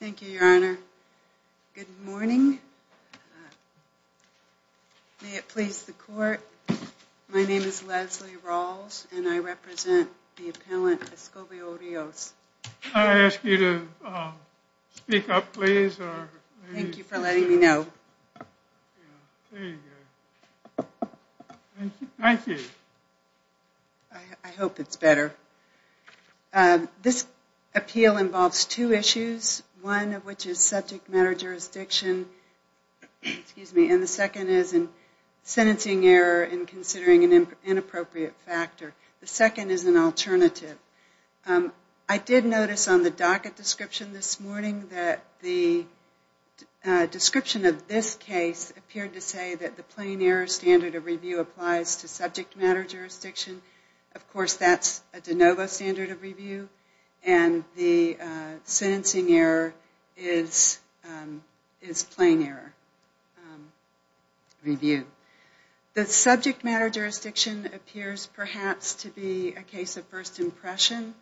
Thank you, Your Honor. Good morning. May it please the court, my name is Leslie Rawls and I represent the appellant Escovio Rios. Can I ask you to speak up, please? Thank you for letting me know. I hope it's better. This appeal involves two issues, one of which is subject matter jurisdiction and the second is sentencing error and considering an inappropriate factor. The second is an alternative. I did notice on the docket description this morning that the description of this case appeared to say that the plain error standard of review applies to subject matter jurisdiction. Of course that's a de novo standard of review and the sentencing error is plain error review. The subject matter jurisdiction appears perhaps to be a case of first impression.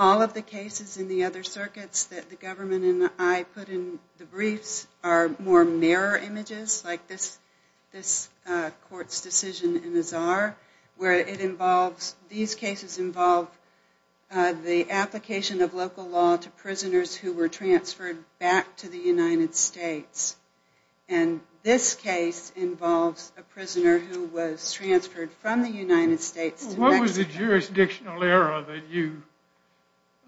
All of the cases in the other circuits that the government and I put in the briefs are more mirror images like this court's decision in the Czar where it involves, these cases involve the application of local law to prisoners who were transferred back to the United States. And this case involves a prisoner who was transferred from the United States to Mexico. What was the jurisdictional error that you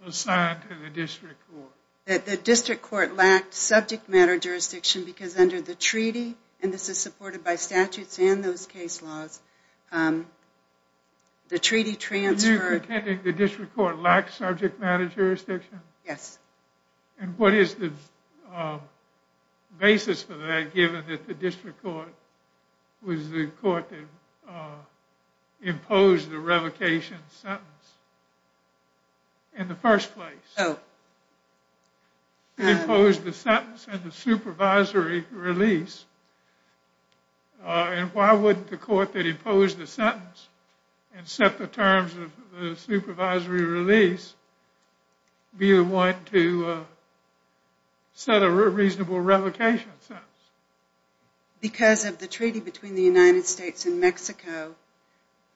assigned to the district court? That the district court lacked subject matter jurisdiction because under the treaty, and this is supported by statutes and those case laws, the treaty transferred. You're pretending the district court lacked subject matter jurisdiction? Yes. And what is the basis for that given that the district court was the court that imposed the revocation sentence in the first place? It imposed the sentence and the supervisory release. And why wouldn't the court that imposed the sentence and set the terms of the supervisory release be the one to set a reasonable revocation sentence? Because of the treaty between the United States and Mexico,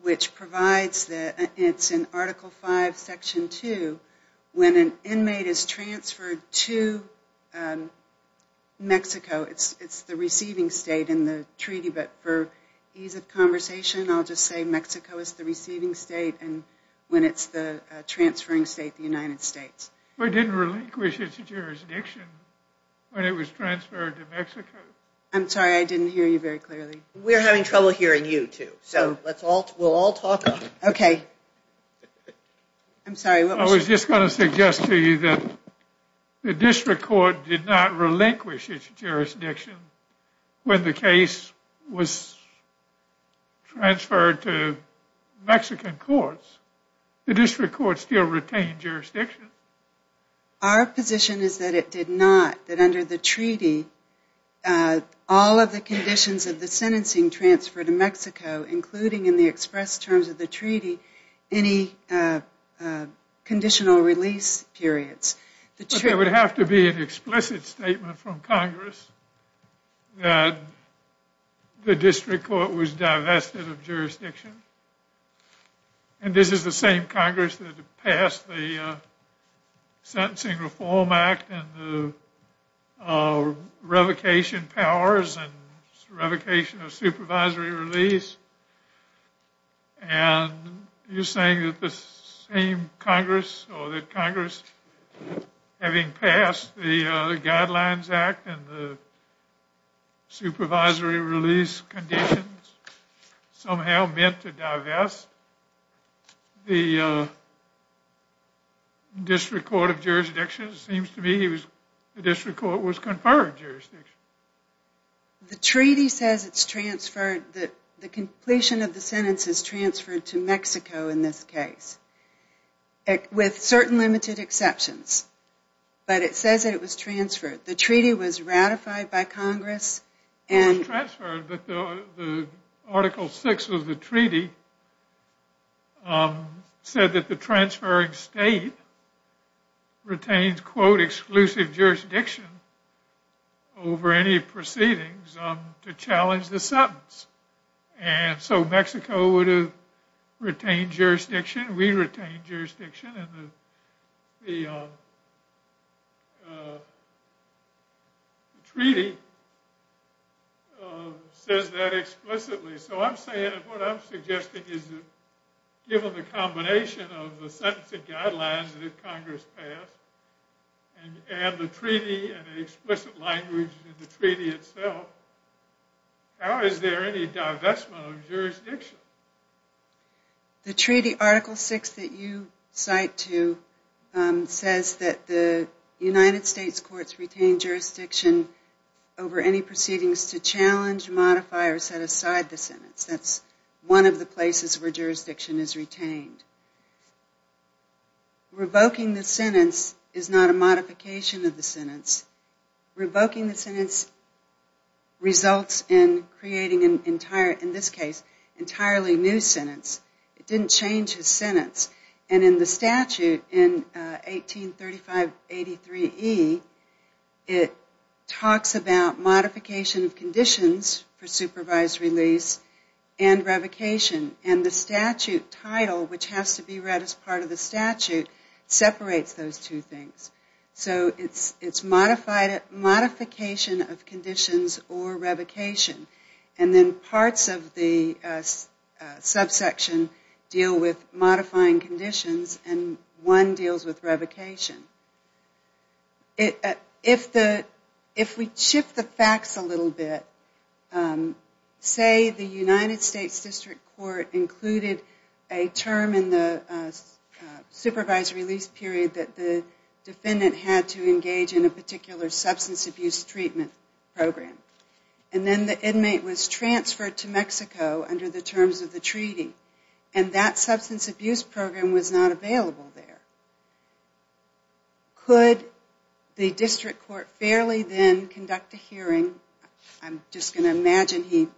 which provides that it's in Article 5, Section 2, when an inmate is transferred to Mexico, it's the receiving state in the treaty. But for ease of conversation, I'll just say Mexico is the receiving state and when it's the transferring state, the United States. We didn't relinquish its jurisdiction when it was transferred to Mexico. I'm sorry, I didn't hear you very clearly. We're having trouble hearing you too, so we'll all talk. Okay. I'm sorry, what was your question? Our position is that it did not, that under the treaty, all of the conditions of the sentencing transfer to Mexico, including in the express terms of the treaty, any conditional release periods. It would have to be an explicit statement from Congress that the district court was divested of jurisdiction. And this is the same Congress that passed the Sentencing Reform Act and the revocation powers and revocation of supervisory release. And you're saying that the same Congress or that Congress, having passed the Guidelines Act and the supervisory release conditions, somehow meant to divest the district court of jurisdiction? It seems to me the district court was conferred jurisdiction. The treaty says it's transferred, that the completion of the sentence is transferred to Mexico in this case, with certain limited exceptions. But it says that it was transferred. The treaty was ratified by Congress. It was transferred, but the Article 6 of the treaty said that the transferring state retains, quote, exclusive jurisdiction over any proceedings to challenge the sentence. And so Mexico would have retained jurisdiction, re-retained jurisdiction, and the treaty says that explicitly. So I'm saying, what I'm suggesting is that given the combination of the sentencing guidelines that Congress passed and the treaty and the explicit language in the treaty itself, how is there any divestment of jurisdiction? The treaty Article 6 that you cite to says that the United States courts retain jurisdiction over any proceedings to challenge, modify, or set aside the sentence. That's one of the places where jurisdiction is retained. Revoking the sentence is not a modification of the sentence. Revoking the sentence results in creating an entire, in this case, entirely new sentence. It didn't change his sentence. And in the statute in 183583E, it talks about modification of conditions for supervised release and revocation. And the statute title, which has to be read as part of the statute, separates those two things. So it's modification of conditions or revocation. And then parts of the subsection deal with modifying conditions, and one deals with revocation. If we shift the facts a little bit, say the United States District Court included a term in the supervised release period that the defendant had to engage in a particular substance abuse treatment program. And then the inmate was transferred to Mexico under the terms of the treaty. And that substance abuse program was not available there. Could the district court fairly then conduct a hearing? I'm just going to imagine he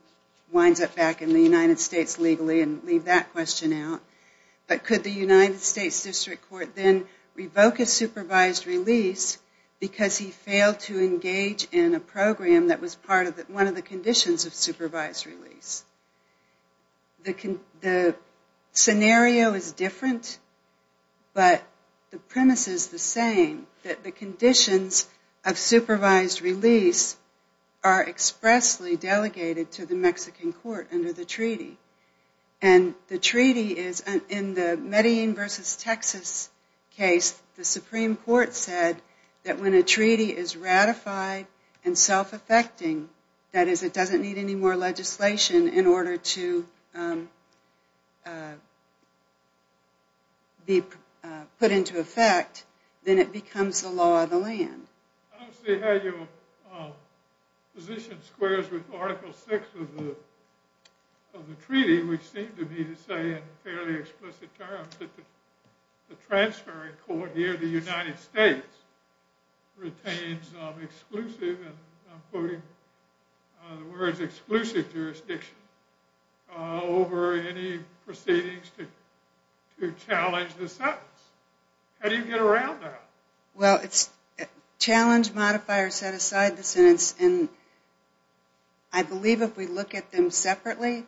winds up back in the United States legally and leave that question out. But could the United States District Court then revoke his supervised release because he failed to engage in a program that was one of the conditions of supervised release? The scenario is different, but the premise is the same. That the conditions of supervised release are expressly delegated to the Mexican court under the treaty. And the treaty is in the Medellin versus Texas case, the Supreme Court said that when a treaty is ratified and self-effecting, that is, it doesn't need any more legislation, in order to be put into effect, then it becomes the law of the land. I don't see how you position squares with Article VI of the treaty, which seems to me to say in fairly explicit terms that the transferring court here, the United States, retains exclusive, and I'm quoting the words, exclusive jurisdiction over any proceedings to challenge the sentence. How do you get around that? Well, it's challenge, modify, or set aside the sentence. And I believe if we look at them separately,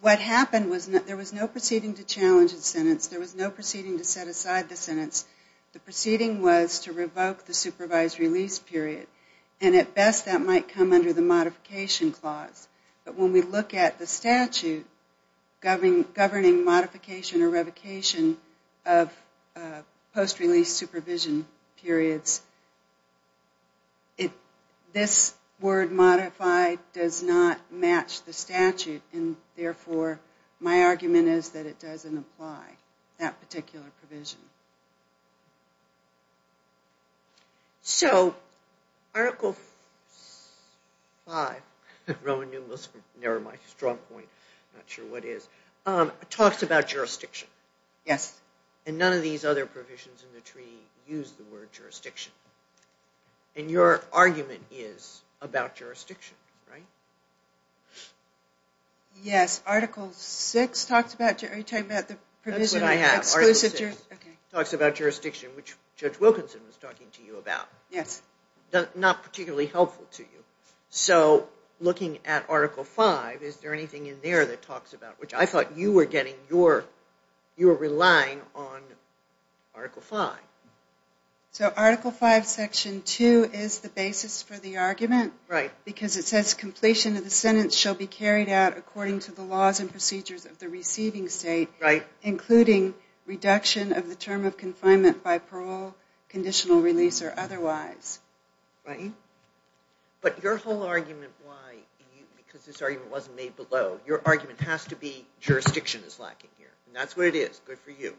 what happened was there was no proceeding to challenge the sentence. There was no proceeding to set aside the sentence. The proceeding was to revoke the supervised release period. And at best that might come under the modification clause. But when we look at the statute governing modification or revocation of post-release supervision periods, this word modify does not match the statute, and therefore my argument is that it doesn't apply, that particular provision. So Article V, Roman Neumann, my strong point, I'm not sure what it is, talks about jurisdiction. Yes. And none of these other provisions in the treaty use the word jurisdiction. And your argument is about jurisdiction, right? Yes. Article VI talks about jurisdiction, which Judge Wilkinson was talking to you about. Yes. Not particularly helpful to you. So looking at Article V, is there anything in there that talks about, which I thought you were getting, you were relying on Article V. So Article V, Section 2 is the basis for the argument. Right. Because it says completion of the sentence shall be carried out according to the laws and procedures of the receiving state. Right. Including reduction of the term of confinement by parole, conditional release, or otherwise. Right. But your whole argument why, because this argument wasn't made below, your argument has to be jurisdiction is lacking here. And that's what it is. Good for you.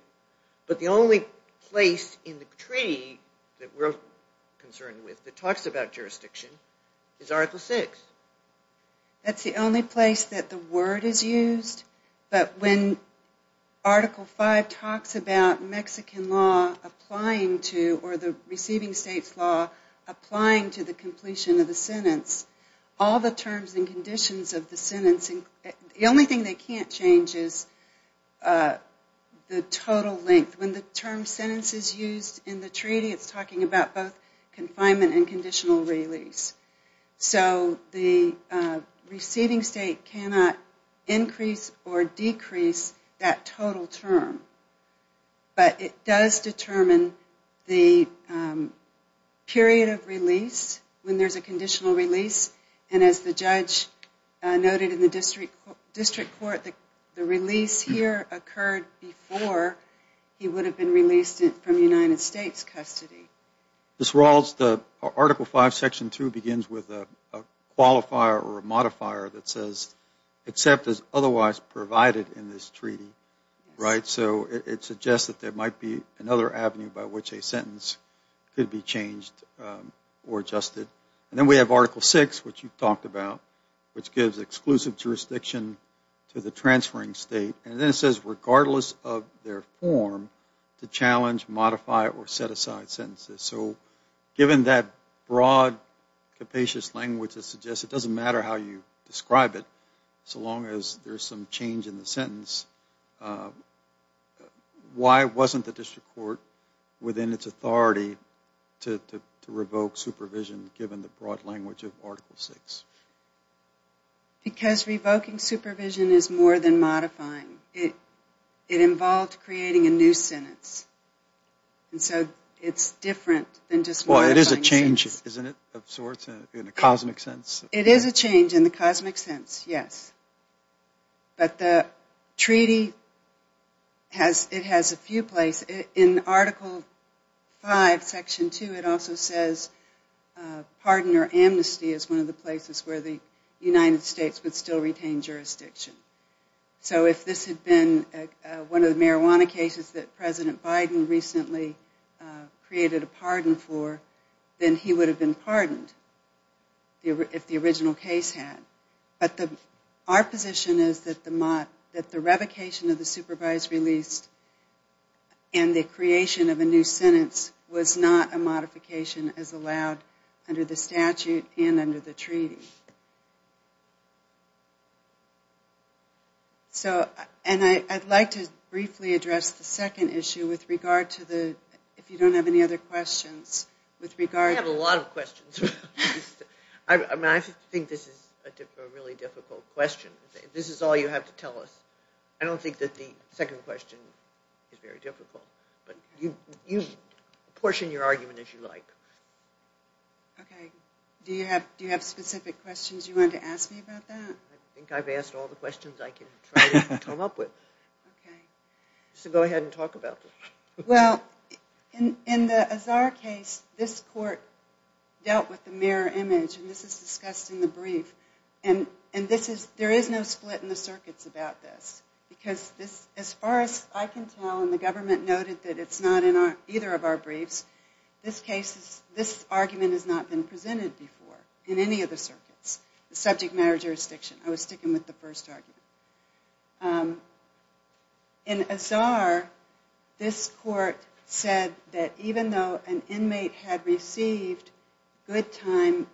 But the only place in the treaty that we're concerned with that talks about jurisdiction is Article VI. That's the only place that the word is used. But when Article V talks about Mexican law applying to, or the receiving state's law applying to the completion of the sentence, all the terms and conditions of the sentence, the only thing they can't change is the total length. When the term sentence is used in the treaty, it's talking about both confinement and conditional release. So the receiving state cannot increase or decrease that total term. But it does determine the period of release when there's a conditional release. And as the judge noted in the district court, the release here occurred before he would have been released from United States custody. Ms. Rawls, the Article V, Section 2 begins with a qualifier or a modifier that says except as otherwise provided in this treaty. So it suggests that there might be another avenue by which a sentence could be changed or adjusted. And then we have Article VI, which you talked about, which gives exclusive jurisdiction to the transferring state. And then it says regardless of their form, to challenge, modify, or set aside sentences. So given that broad, capacious language that suggests it doesn't matter how you describe it, so long as there's some change in the sentence, why wasn't the district court within its authority to revoke supervision, given the broad language of Article VI? Because revoking supervision is more than modifying. It involved creating a new sentence. And so it's different than just modifying sentences. Well, it is a change, isn't it, of sorts in a cosmic sense? It is a change in the cosmic sense, yes. But the treaty, it has a few places. In Article V, Section 2, it also says pardon or amnesty is one of the places where the United States would still retain jurisdiction. So if this had been one of the marijuana cases that President Biden recently created a pardon for, then he would have been pardoned if the original case had. But our position is that the revocation of the supervised release and the creation of a new sentence was not a modification as allowed under the statute and under the treaty. And I'd like to briefly address the second issue with regard to the, if you don't have any other questions. I have a lot of questions. I think this is a really difficult question. If this is all you have to tell us, I don't think that the second question is very difficult. But you portion your argument as you like. Okay. Do you have specific questions you want to ask me about that? I think I've asked all the questions I can try to come up with. Okay. So go ahead and talk about this. Well, in the Azar case, this court dealt with the mirror image. And this is discussed in the brief. And there is no split in the circuits about this. Because as far as I can tell, and the government noted that it's not in either of our briefs, the subject matter jurisdiction. I was sticking with the first argument. In Azar, this court said that even though an inmate had received good time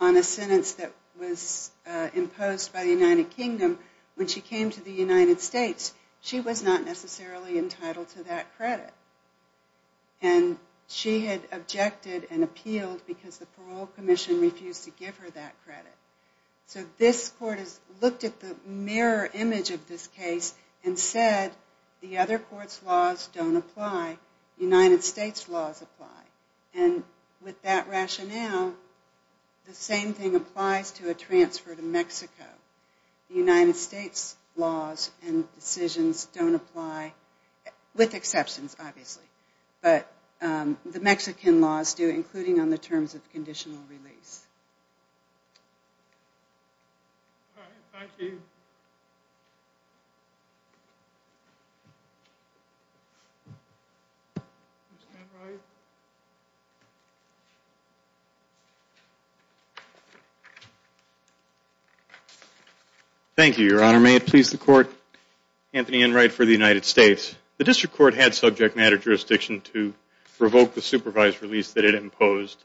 on a sentence that was imposed by the United Kingdom, when she came to the United States, she was not necessarily entitled to that credit. And she had objected and appealed because the parole commission refused to give her that credit. So this court has looked at the mirror image of this case and said, the other court's laws don't apply. The United States' laws apply. And with that rationale, the same thing applies to a transfer to Mexico. The United States' laws and decisions don't apply, with exceptions, obviously. But the Mexican laws do, including on the terms of conditional release. All right. Thank you. Mr. Enright. Thank you, Your Honor. May it please the Court. Anthony Enright for the United States. The district court had subject matter jurisdiction to revoke the supervised release that it imposed.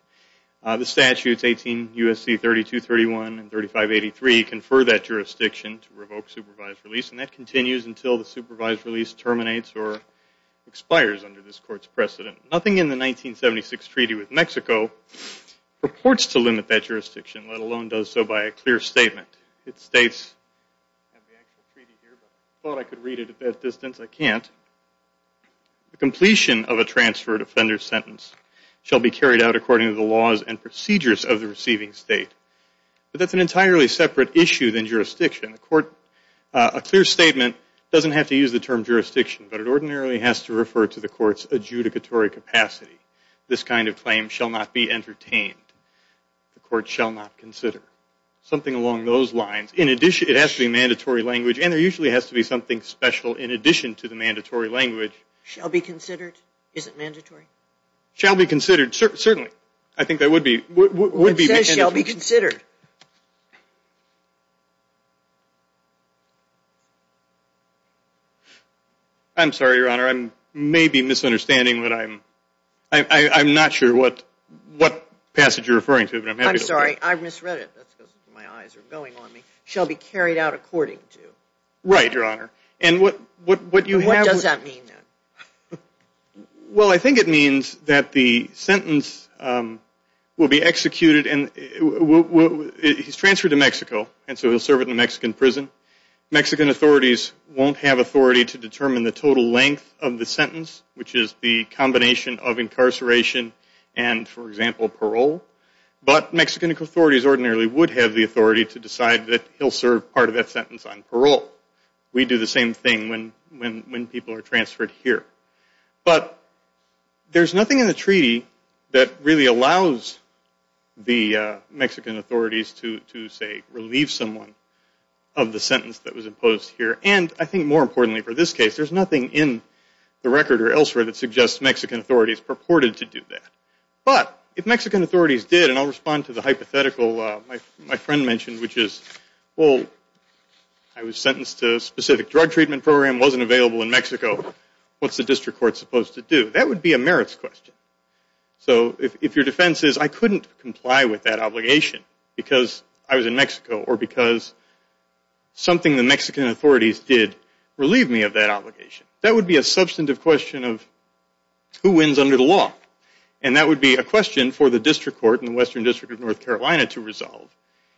The statutes 18 U.S.C. 3231 and 3583 confer that jurisdiction to revoke supervised release, and that continues until the supervised release terminates or expires under this court's precedent. Nothing in the 1976 treaty with Mexico purports to limit that jurisdiction, let alone does so by a clear statement. It states, I have the actual treaty here, but I thought I could read it at that distance. I can't. The completion of a transfer defender sentence shall be carried out according to the laws and procedures of the receiving state. But that's an entirely separate issue than jurisdiction. A clear statement doesn't have to use the term jurisdiction, but it ordinarily has to refer to the court's adjudicatory capacity. This kind of claim shall not be entertained. The court shall not consider. Something along those lines. It has to be mandatory language, and there usually has to be something special in addition to the mandatory language. Shall be considered? Is it mandatory? Shall be considered. Certainly. I think that would be. It says shall be considered. I'm sorry, Your Honor. I may be misunderstanding, but I'm not sure what passage you're referring to. I'm sorry. I misread it. That's because my eyes are going on me. Right, Your Honor. What does that mean? Well, I think it means that the sentence will be executed. He's transferred to Mexico, and so he'll serve in a Mexican prison. Mexican authorities won't have authority to determine the total length of the sentence, which is the combination of incarceration and, for example, parole. But Mexican authorities ordinarily would have the authority to decide that he'll serve part of that sentence on parole. We do the same thing when people are transferred here. But there's nothing in the treaty that really allows the Mexican authorities to, say, relieve someone of the sentence that was imposed here. And I think more importantly for this case, there's nothing in the record or elsewhere that suggests Mexican authorities purported to do that. But if Mexican authorities did, and I'll respond to the hypothetical my friend mentioned, which is, well, I was sentenced to a specific drug treatment program, wasn't available in Mexico, what's the district court supposed to do? That would be a merits question. So if your defense is I couldn't comply with that obligation because I was in Mexico or because something the Mexican authorities did relieved me of that obligation, that would be a substantive question of who wins under the law. And that would be a question for the district court in the Western District of North Carolina to resolve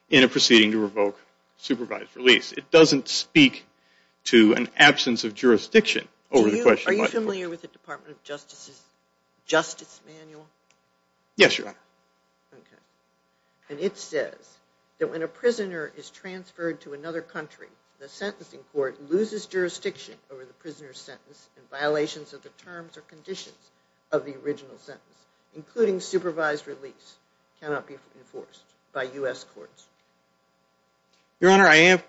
in a proceeding to revoke supervised release. It doesn't speak to an absence of jurisdiction over the question. Are you familiar with the Department of Justice's Justice Manual? Yes, Your Honor. Okay. And it says that when a prisoner is transferred to another country, the sentencing court loses jurisdiction over the prisoner's sentence and violations of the terms or conditions of the original sentence, including supervised release, cannot be enforced by U.S. courts. Your Honor, I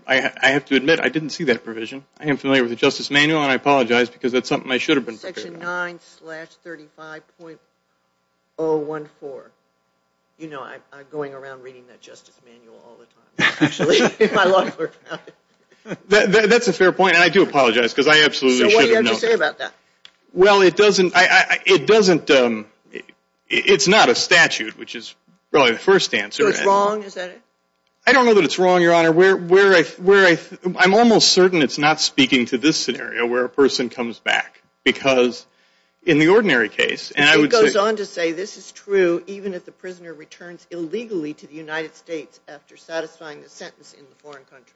have to admit I didn't see that provision. I am familiar with the Justice Manual, and I apologize because that's something I should have been prepared for. Section 9-35.014. You know, I'm going around reading that Justice Manual all the time, actually. That's a fair point, and I do apologize because I absolutely should have known that. So what do you have to say about that? Well, it doesn't – it's not a statute, which is probably the first answer. So it's wrong, is that it? I don't know that it's wrong, Your Honor. I'm almost certain it's not speaking to this scenario where a person comes back because in the ordinary case, and I would say – It goes on to say this is true even if the prisoner returns illegally to the United States after satisfying the sentence in the foreign country.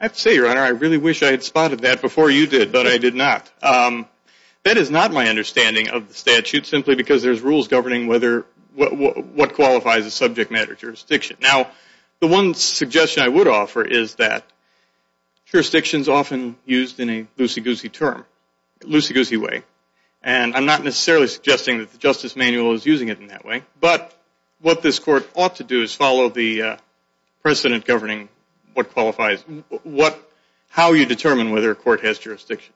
I have to say, Your Honor, I really wish I had spotted that before you did, but I did not. That is not my understanding of the statute, simply because there's rules governing what qualifies as subject matter jurisdiction. Now, the one suggestion I would offer is that jurisdiction is often used in a loosey-goosey term, loosey-goosey way, and I'm not necessarily suggesting that the Justice Manual is using it in that way, but what this court ought to do is follow the precedent governing what qualifies – how you determine whether a court has jurisdiction.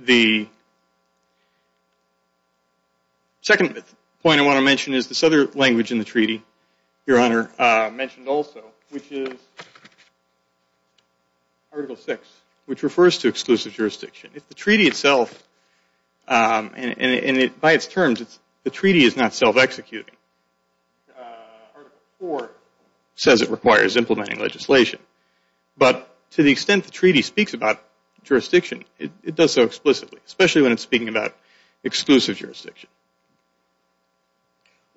The second point I want to mention is this other language in the treaty, Your Honor, mentioned also, which is Article VI, which refers to exclusive jurisdiction. If the treaty itself – and by its terms, the treaty is not self-executing. Article IV says it requires implementing legislation, but to the extent the treaty speaks about jurisdiction, it does so explicitly, especially when it's speaking about exclusive jurisdiction.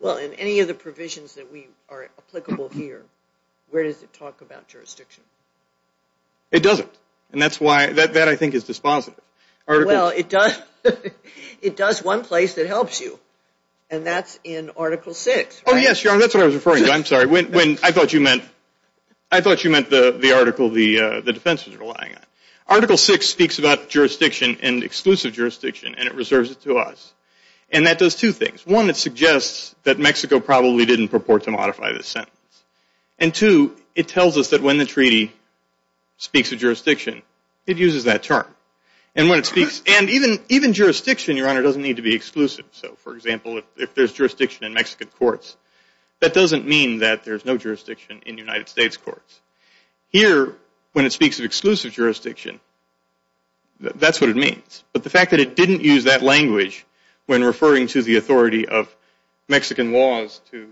Well, in any of the provisions that are applicable here, where does it talk about jurisdiction? It doesn't, and that's why – that, I think, is dispositive. Well, it does one place that helps you, and that's in Article VI. Oh, yes, Your Honor, that's what I was referring to. I'm sorry. I thought you meant the article the defense was relying on. Article VI speaks about jurisdiction and exclusive jurisdiction, and it reserves it to us, and that does two things. One, it suggests that Mexico probably didn't purport to modify this sentence, and two, it tells us that when the treaty speaks of jurisdiction, it uses that term. And when it speaks – and even jurisdiction, Your Honor, doesn't need to be exclusive. So, for example, if there's jurisdiction in Mexican courts, that doesn't mean that there's no jurisdiction in United States courts. Here, when it speaks of exclusive jurisdiction, that's what it means, but the fact that it didn't use that language when referring to the authority of Mexican laws to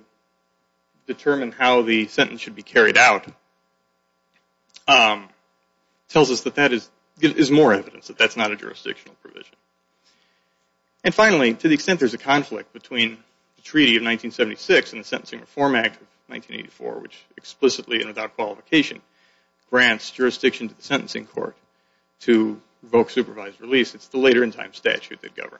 determine how the sentence should be carried out tells us that that is more evidence, that that's not a jurisdictional provision. And finally, to the extent there's a conflict between the Treaty of 1976 and the Sentencing Reform Act of 1984, which explicitly and without qualification grants jurisdiction to the sentencing court to revoke supervised release, it's the later in time statute that governs.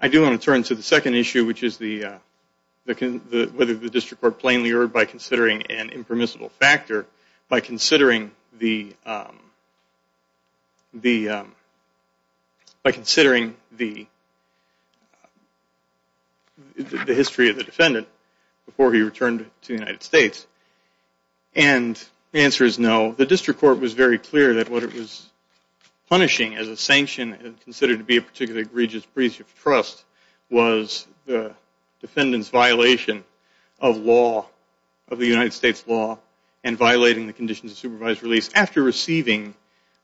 I do want to turn to the second issue, which is the – whether the district court plainly erred by considering an impermissible factor, by considering the history of the defendant before he returned to the United States. And the answer is no. The district court was very clear that what it was punishing as a sanction and considered to be a particularly egregious breach of trust was the defendant's violation of law, of the United States law, and violating the conditions of supervised release after receiving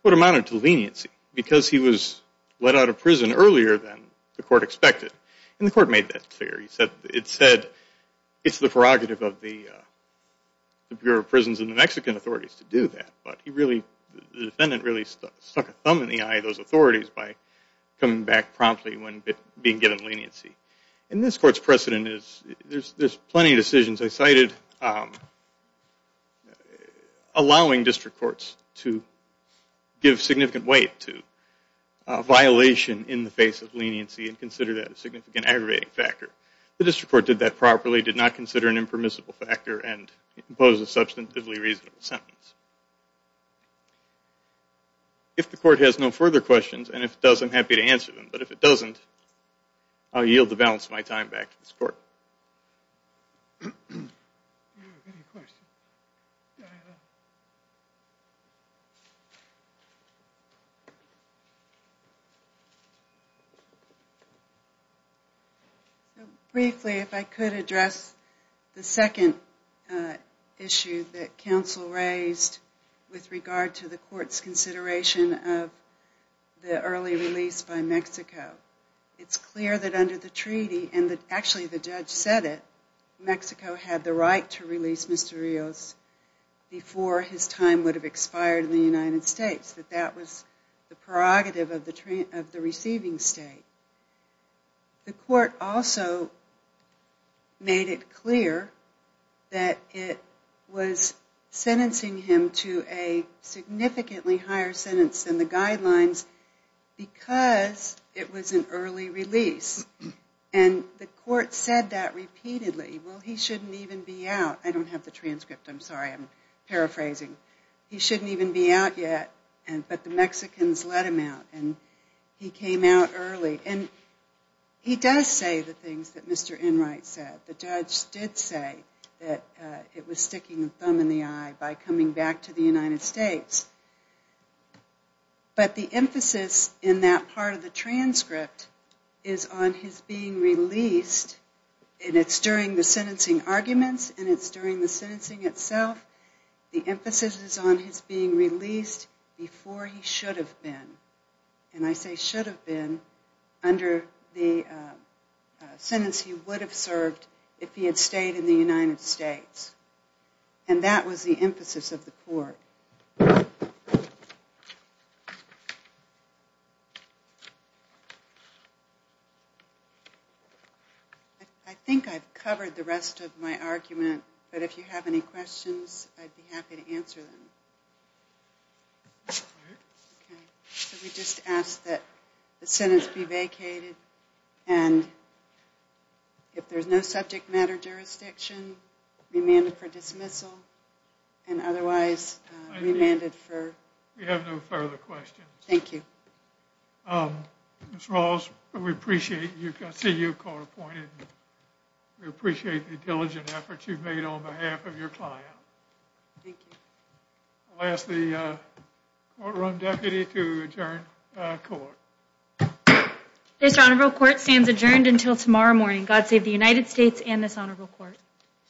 what amounted to leniency because he was let out of prison earlier than the court expected. And the court made that clear. It said it's the prerogative of the Bureau of Prisons and the Mexican authorities to do that, but the defendant really stuck a thumb in the eye of those authorities by coming back promptly when being given leniency. And this court's precedent is – there's plenty of decisions I cited allowing district courts to give significant weight to a violation in the face of leniency and consider that a significant aggravating factor. The district court did that properly, did not consider an impermissible factor, and imposed a substantively reasonable sentence. If the court has no further questions, and if it does, I'm happy to answer them. But if it doesn't, I'll yield the balance of my time back to this court. Any questions? Briefly, if I could address the second issue that counsel raised with regard to the court's consideration of the early release by Mexico. It's clear that under the treaty, and actually the judge said it, Mexico had the right to release Mr. Rios before his time would have expired in the United States, that that was the prerogative of the receiving state. The court also made it clear that it was sentencing him to a significantly higher sentence than the guidelines because it was an early release. And the court said that repeatedly. Well, he shouldn't even be out. I don't have the transcript, I'm sorry, I'm paraphrasing. He shouldn't even be out yet, but the Mexicans let him out, and he came out early. And he does say the things that Mr. Enright said. The judge did say that it was sticking a thumb in the eye by coming back to the United States. But the emphasis in that part of the transcript is on his being released, and it's during the sentencing arguments, and it's during the sentencing itself. The emphasis is on his being released before he should have been. And I say should have been under the sentence he would have served if he had stayed in the United States. And that was the emphasis of the court. I think I've covered the rest of my argument, but if you have any questions, I'd be happy to answer them. Could we just ask that the sentence be vacated, and if there's no subject matter jurisdiction, remanded for dismissal, and otherwise remanded for... We have no further questions. Thank you. Ms. Rawls, we appreciate seeing you court appointed. We appreciate the diligent efforts you've made on behalf of your client. Thank you. I'll ask the courtroom deputy to adjourn court. This honorable court stands adjourned until tomorrow morning. God save the United States and this honorable court.